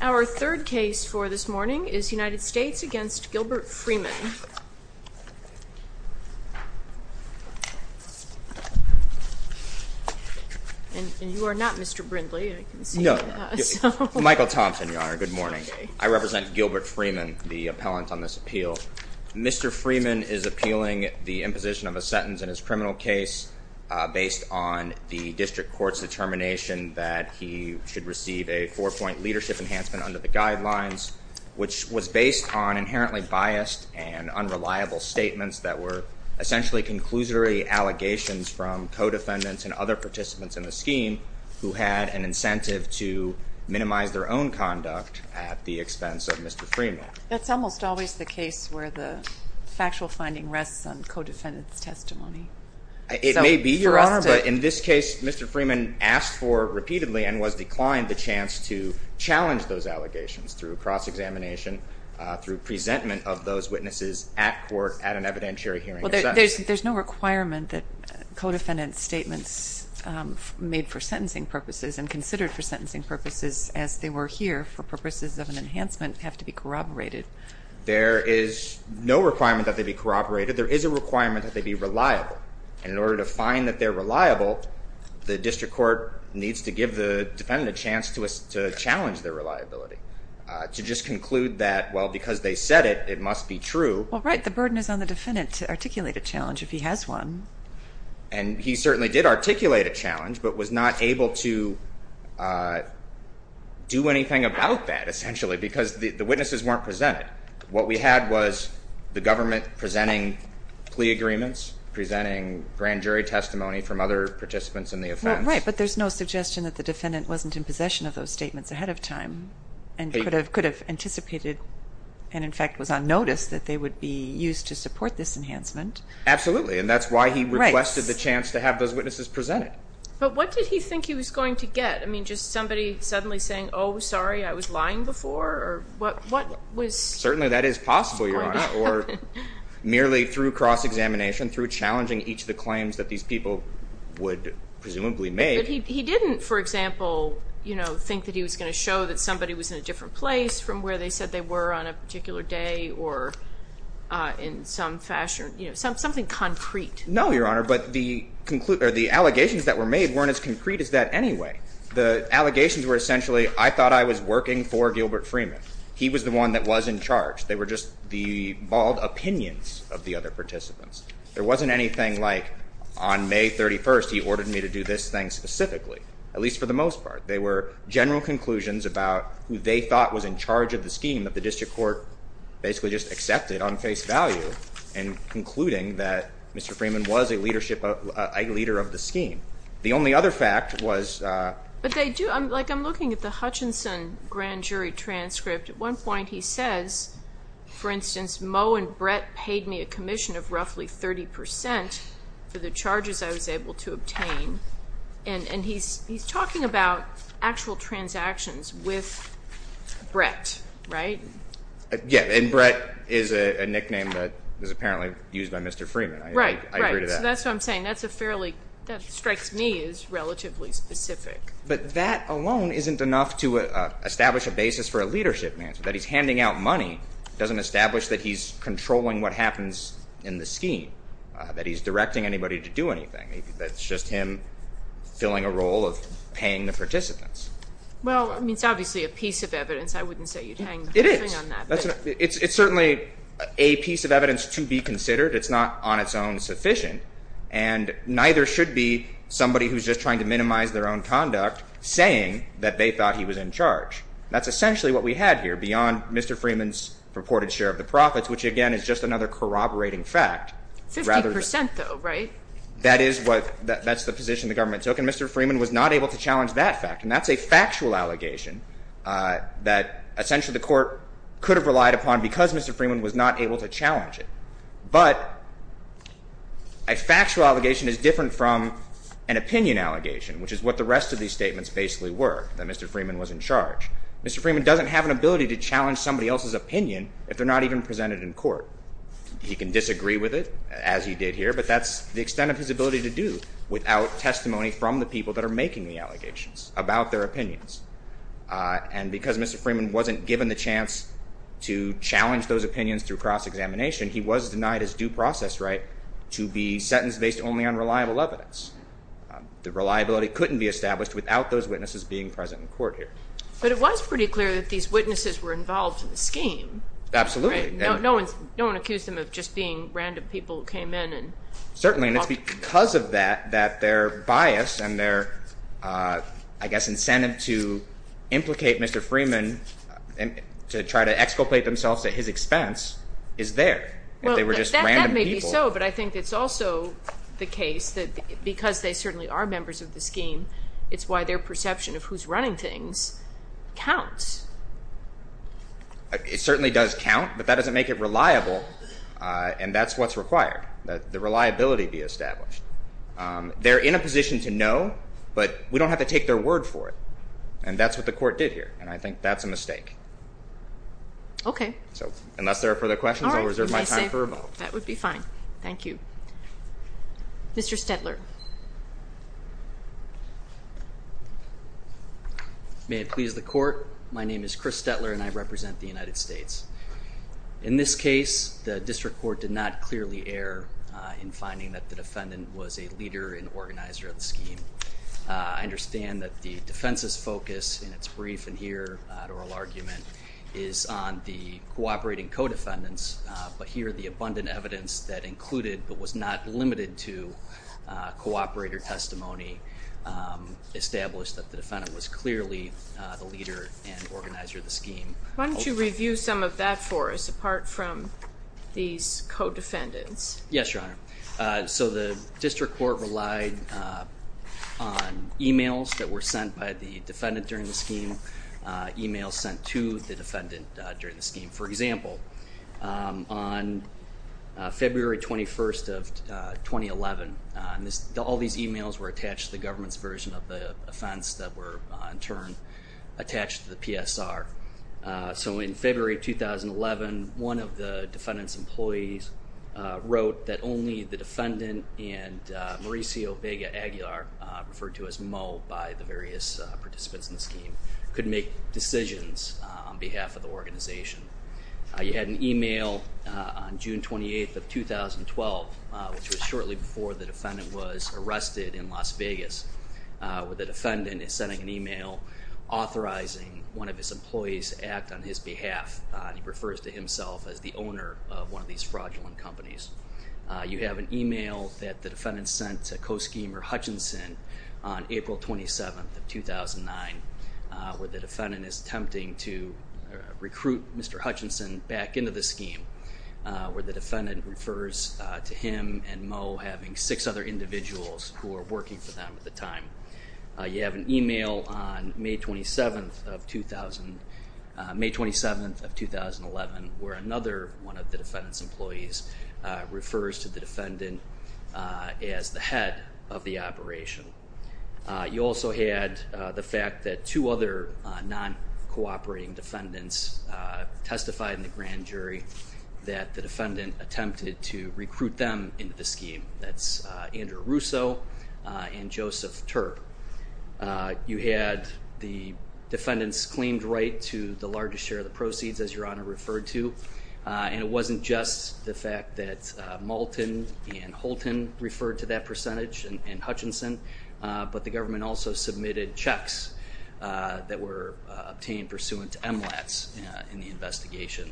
Our third case for this morning is United States v. Gilbert Freeman And you are not Mr. Brindley, I can see that. No, Michael Thompson, Your Honor, good morning. I represent Gilbert Freeman, the appellant on this appeal. Mr. Freeman is appealing the imposition of a sentence in his criminal case based on the district court's determination that he should receive a four-point leadership enhancement under the guidelines, which was based on inherently biased and unreliable statements that were essentially conclusory allegations from co-defendants and other participants in the scheme who had an incentive to minimize their own conduct at the expense of Mr. Freeman. That's almost always the case where the factual finding rests on co-defendants' testimony. It may be, Your Honor, but in this case Mr. Freeman asked for repeatedly and was declined the chance to challenge those allegations through cross-examination, through presentment of those witnesses at court at an evidentiary hearing. There's no requirement that co-defendant statements made for sentencing purposes and considered for sentencing purposes as they were here for purposes of an enhancement have to be corroborated. There is no requirement that they be corroborated. There is a requirement that they be reliable, and in order to find that they're reliable, the district court needs to give the defendant a chance to challenge their reliability, to just conclude that, well, because they said it, it must be true. Well, right. The burden is on the defendant to articulate a challenge if he has one. And he certainly did articulate a challenge but was not able to do anything about that, essentially, because the witnesses weren't presented. Right. What we had was the government presenting plea agreements, presenting grand jury testimony from other participants in the offense. Right, but there's no suggestion that the defendant wasn't in possession of those statements ahead of time and could have anticipated and, in fact, was on notice that they would be used to support this enhancement. Absolutely, and that's why he requested the chance to have those witnesses presented. But what did he think he was going to get? I mean, just somebody suddenly saying, oh, sorry, I was lying before? Certainly that is possible, Your Honor. Or merely through cross-examination, through challenging each of the claims that these people would presumably make. But he didn't, for example, think that he was going to show that somebody was in a different place from where they said they were on a particular day or in some fashion, something concrete. No, Your Honor, but the allegations that were made weren't as concrete as that anyway. The allegations were essentially, I thought I was working for Gilbert Freeman. He was the one that was in charge. They were just the bald opinions of the other participants. There wasn't anything like, on May 31st, he ordered me to do this thing specifically, at least for the most part. They were general conclusions about who they thought was in charge of the scheme that the district court basically just accepted on face value in concluding that Mr. Freeman was a leader of the scheme. The only other fact was... But they do. I'm looking at the Hutchinson grand jury transcript. At one point he says, for instance, Moe and Brett paid me a commission of roughly 30% for the charges I was able to obtain. And he's talking about actual transactions with Brett, right? Yeah, and Brett is a nickname that was apparently used by Mr. Freeman. Right, right. So that's what I'm saying. That strikes me as relatively specific. But that alone isn't enough to establish a basis for a leadership answer, that he's handing out money doesn't establish that he's controlling what happens in the scheme, that he's directing anybody to do anything. That's just him filling a role of paying the participants. Well, I mean, it's obviously a piece of evidence. I wouldn't say you'd hang anything on that. It is. It's certainly a piece of evidence to be considered. It's not on its own sufficient. And neither should be somebody who's just trying to minimize their own conduct, saying that they thought he was in charge. That's essentially what we had here beyond Mr. Freeman's purported share of the profits, which, again, is just another corroborating fact. 50%, though, right? That's the position the government took. And Mr. Freeman was not able to challenge that fact. And that's a factual allegation that essentially the court could have relied upon because Mr. Freeman was not able to challenge it. But a factual allegation is different from an opinion allegation, which is what the rest of these statements basically were, that Mr. Freeman was in charge. Mr. Freeman doesn't have an ability to challenge somebody else's opinion if they're not even presented in court. He can disagree with it, as he did here, but that's the extent of his ability to do without testimony from the people that are making the allegations about their opinions. And because Mr. Freeman wasn't given the chance to challenge those opinions through cross-examination, he was denied his due process right to be sentenced based only on reliable evidence. The reliability couldn't be established without those witnesses being present in court here. But it was pretty clear that these witnesses were involved in the scheme. Absolutely. No one accused them of just being random people who came in. Certainly, and it's because of that that their bias and their, I guess, incentive to implicate Mr. Freeman to try to exculpate themselves at his expense is there. If they were just random people. That may be so, but I think it's also the case that because they certainly are members of the scheme, it's why their perception of who's running things counts. It certainly does count, but that doesn't make it reliable, and that's what's required, that the reliability be established. They're in a position to know, but we don't have to take their word for it, and that's what the court did here, and I think that's a mistake. Okay. Unless there are further questions, I'll reserve my time for a moment. That would be fine. Thank you. Mr. Stetler. May it please the court, my name is Chris Stetler, and I represent the United States. In this case, the district court did not clearly err in finding that the defendant was a leader and organizer of the scheme. I understand that the defense's focus in its brief and here oral argument is on the cooperating co-defendants, but here the abundant evidence that included, but was not limited to, cooperator testimony established that the defendant was clearly the leader and organizer of the scheme. Why don't you review some of that for us, apart from these co-defendants? Yes, Your Honor. So the district court relied on e-mails that were sent by the defendant during the scheme, e-mails sent to the defendant during the scheme. For example, on February 21st of 2011, all these e-mails were attached to the government's version of the offense that were in turn attached to the PSR. So in February 2011, one of the defendant's employees wrote that only the defendant and Mauricio Vega Aguilar, referred to as Moe by the various participants in the scheme, could make decisions on behalf of the organization. You had an e-mail on June 28th of 2012, which was shortly before the defendant was arrested in Las Vegas, where the defendant is sending an e-mail authorizing one of his employees to act on his behalf. He refers to himself as the owner of one of these fraudulent companies. You have an e-mail that the defendant sent to co-schemer Hutchinson on April 27th of 2009, where the defendant is attempting to recruit Mr. Hutchinson back into the scheme, where the defendant refers to him and Moe having six other individuals who are working for them at the time. You have an e-mail on May 27th of 2011, where another one of the defendant's employees refers to the defendant as the head of the operation. You also had the fact that two other non-cooperating defendants testified in the grand jury that the defendant attempted to recruit them into the scheme. That's Andrew Russo and Joseph Turp. You had the defendant's claimed right to the largest share of the proceeds, as Your Honor referred to, and it wasn't just the fact that Moulton and Holton referred to that percentage and Hutchinson, but the government also submitted checks that were obtained pursuant to MLATs in the investigation,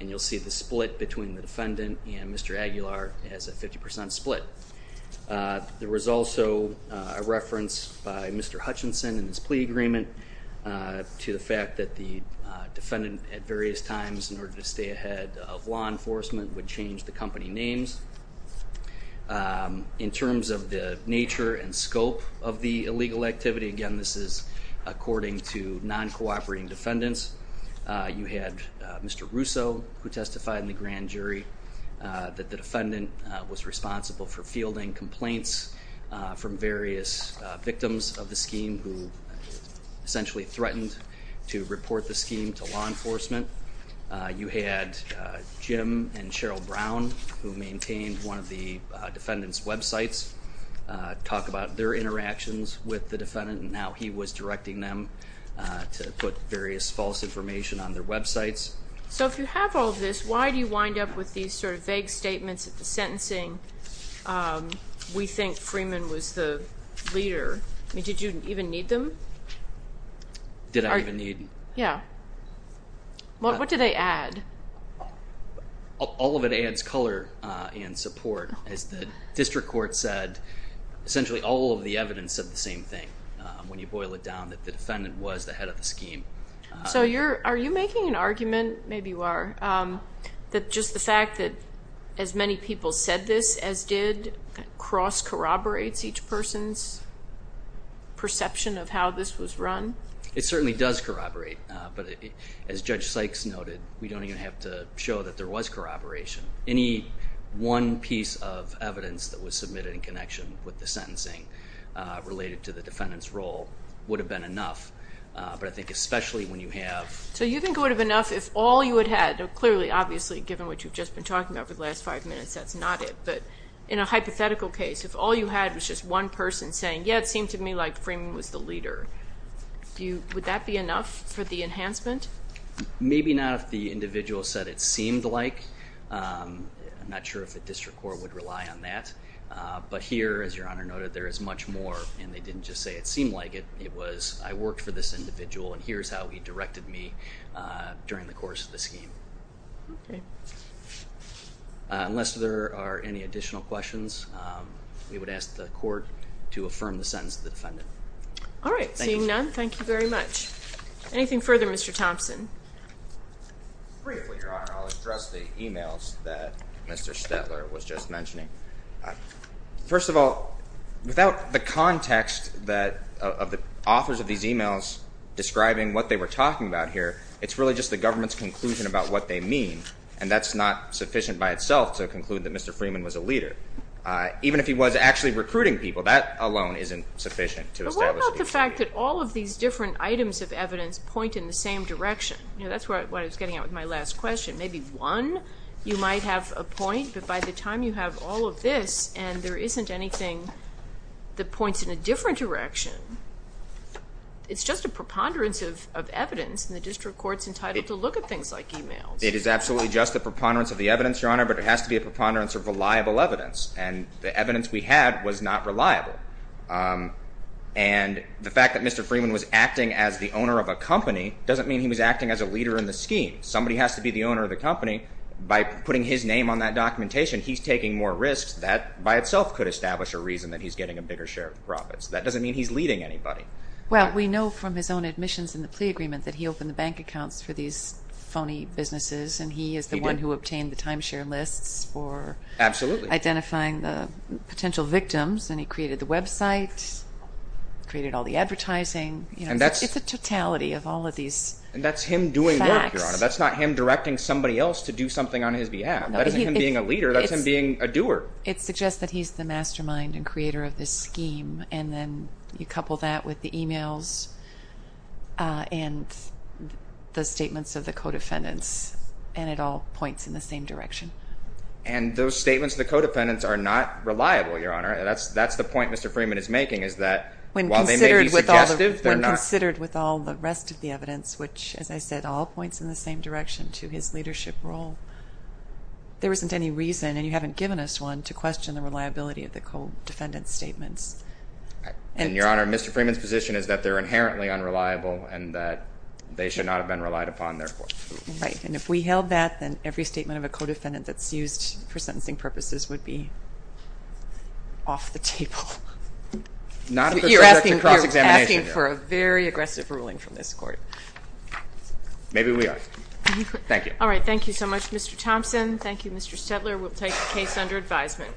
and you'll see the split between the defendant and Mr. Aguilar as a 50% split. There was also a reference by Mr. Hutchinson in his plea agreement to the fact that the defendant, at various times in order to stay ahead of law enforcement, would change the company names. In terms of the nature and scope of the illegal activity, again, this is according to non-cooperating defendants. You had Mr. Russo, who testified in the grand jury that the defendant was responsible for fielding complaints from various victims of the scheme who essentially threatened to report the scheme to law enforcement. You had Jim and Cheryl Brown, who maintained one of the defendant's websites, talk about their interactions with the defendant and how he was directing them to put various false information on their websites. So if you have all this, why do you wind up with these sort of vague statements of the sentencing? We think Freeman was the leader. Did you even need them? Did I even need them? Yeah. What did they add? All of it adds color and support. As the district court said, essentially all of the evidence said the same thing, when you boil it down, that the defendant was the head of the scheme. So are you making an argument, maybe you are, that just the fact that as many people said this as did cross-corroborates each person's perception of how this was run? It certainly does corroborate. But as Judge Sykes noted, we don't even have to show that there was corroboration. Any one piece of evidence that was submitted in connection with the sentencing related to the defendant's role would have been enough. But I think especially when you have... So you think it would have been enough if all you had had, clearly, obviously, given what you've just been talking about for the last five minutes, that's not it. But in a hypothetical case, if all you had was just one person saying, yeah, it seemed to me like Freeman was the leader, would that be enough for the enhancement? Maybe not if the individual said it seemed like. I'm not sure if the district court would rely on that. But here, as Your Honor noted, there is much more, and they didn't just say it seemed like it. It was, I worked for this individual, and here's how he directed me during the course of the scheme. Okay. Unless there are any additional questions, we would ask the court to affirm the sentence of the defendant. All right. Seeing none, thank you very much. Anything further, Mr. Thompson? Briefly, Your Honor, I'll address the emails that Mr. Stetler was just mentioning. First of all, without the context of the authors of these emails describing what they were talking about here, it's really just the government's conclusion about what they mean, and that's not sufficient by itself to conclude that Mr. Freeman was a leader. Even if he was actually recruiting people, that alone isn't sufficient to establish that he was a leader. But what about the fact that all of these different items of evidence point in the same direction? That's what I was getting at with my last question. Maybe one, you might have a point, but by the time you have all of this and there isn't anything that points in a different direction, it's just a preponderance of evidence, and the district court's entitled to look at things like emails. It is absolutely just a preponderance of the evidence, Your Honor, but it has to be a preponderance of reliable evidence, and the evidence we had was not reliable. And the fact that Mr. Freeman was acting as the owner of a company doesn't mean he was acting as a leader in the scheme. Somebody has to be the owner of the company. By putting his name on that documentation, he's taking more risks. That by itself could establish a reason that he's getting a bigger share of the profits. That doesn't mean he's leading anybody. Well, we know from his own admissions in the plea agreement that he opened the bank accounts for these phony businesses, and he is the one who obtained the timeshare lists for identifying the potential victims, and he created the website, created all the advertising. It's a totality of all of these facts. And that's him doing work, Your Honor. That's not him directing somebody else to do something on his behalf. That isn't him being a leader. That's him being a doer. It suggests that he's the mastermind and creator of this scheme, and then you couple that with the emails and the statements of the co-defendants, and it all points in the same direction. And those statements of the co-defendants are not reliable, Your Honor. That's the point Mr. Freeman is making is that while they may be suggestive, they're not. Considered with all the rest of the evidence, which, as I said, all points in the same direction to his leadership role, there isn't any reason, and you haven't given us one, to question the reliability of the co-defendant's statements. And, Your Honor, Mr. Freeman's position is that they're inherently unreliable and that they should not have been relied upon therefore. Right. And if we held that, then every statement of a co-defendant that's used for sentencing purposes would be off the table. You're asking for a very aggressive ruling from this court. Maybe we are. Thank you. All right. Thank you so much, Mr. Thompson. Thank you, Mr. Stetler. We'll take the case under advisement.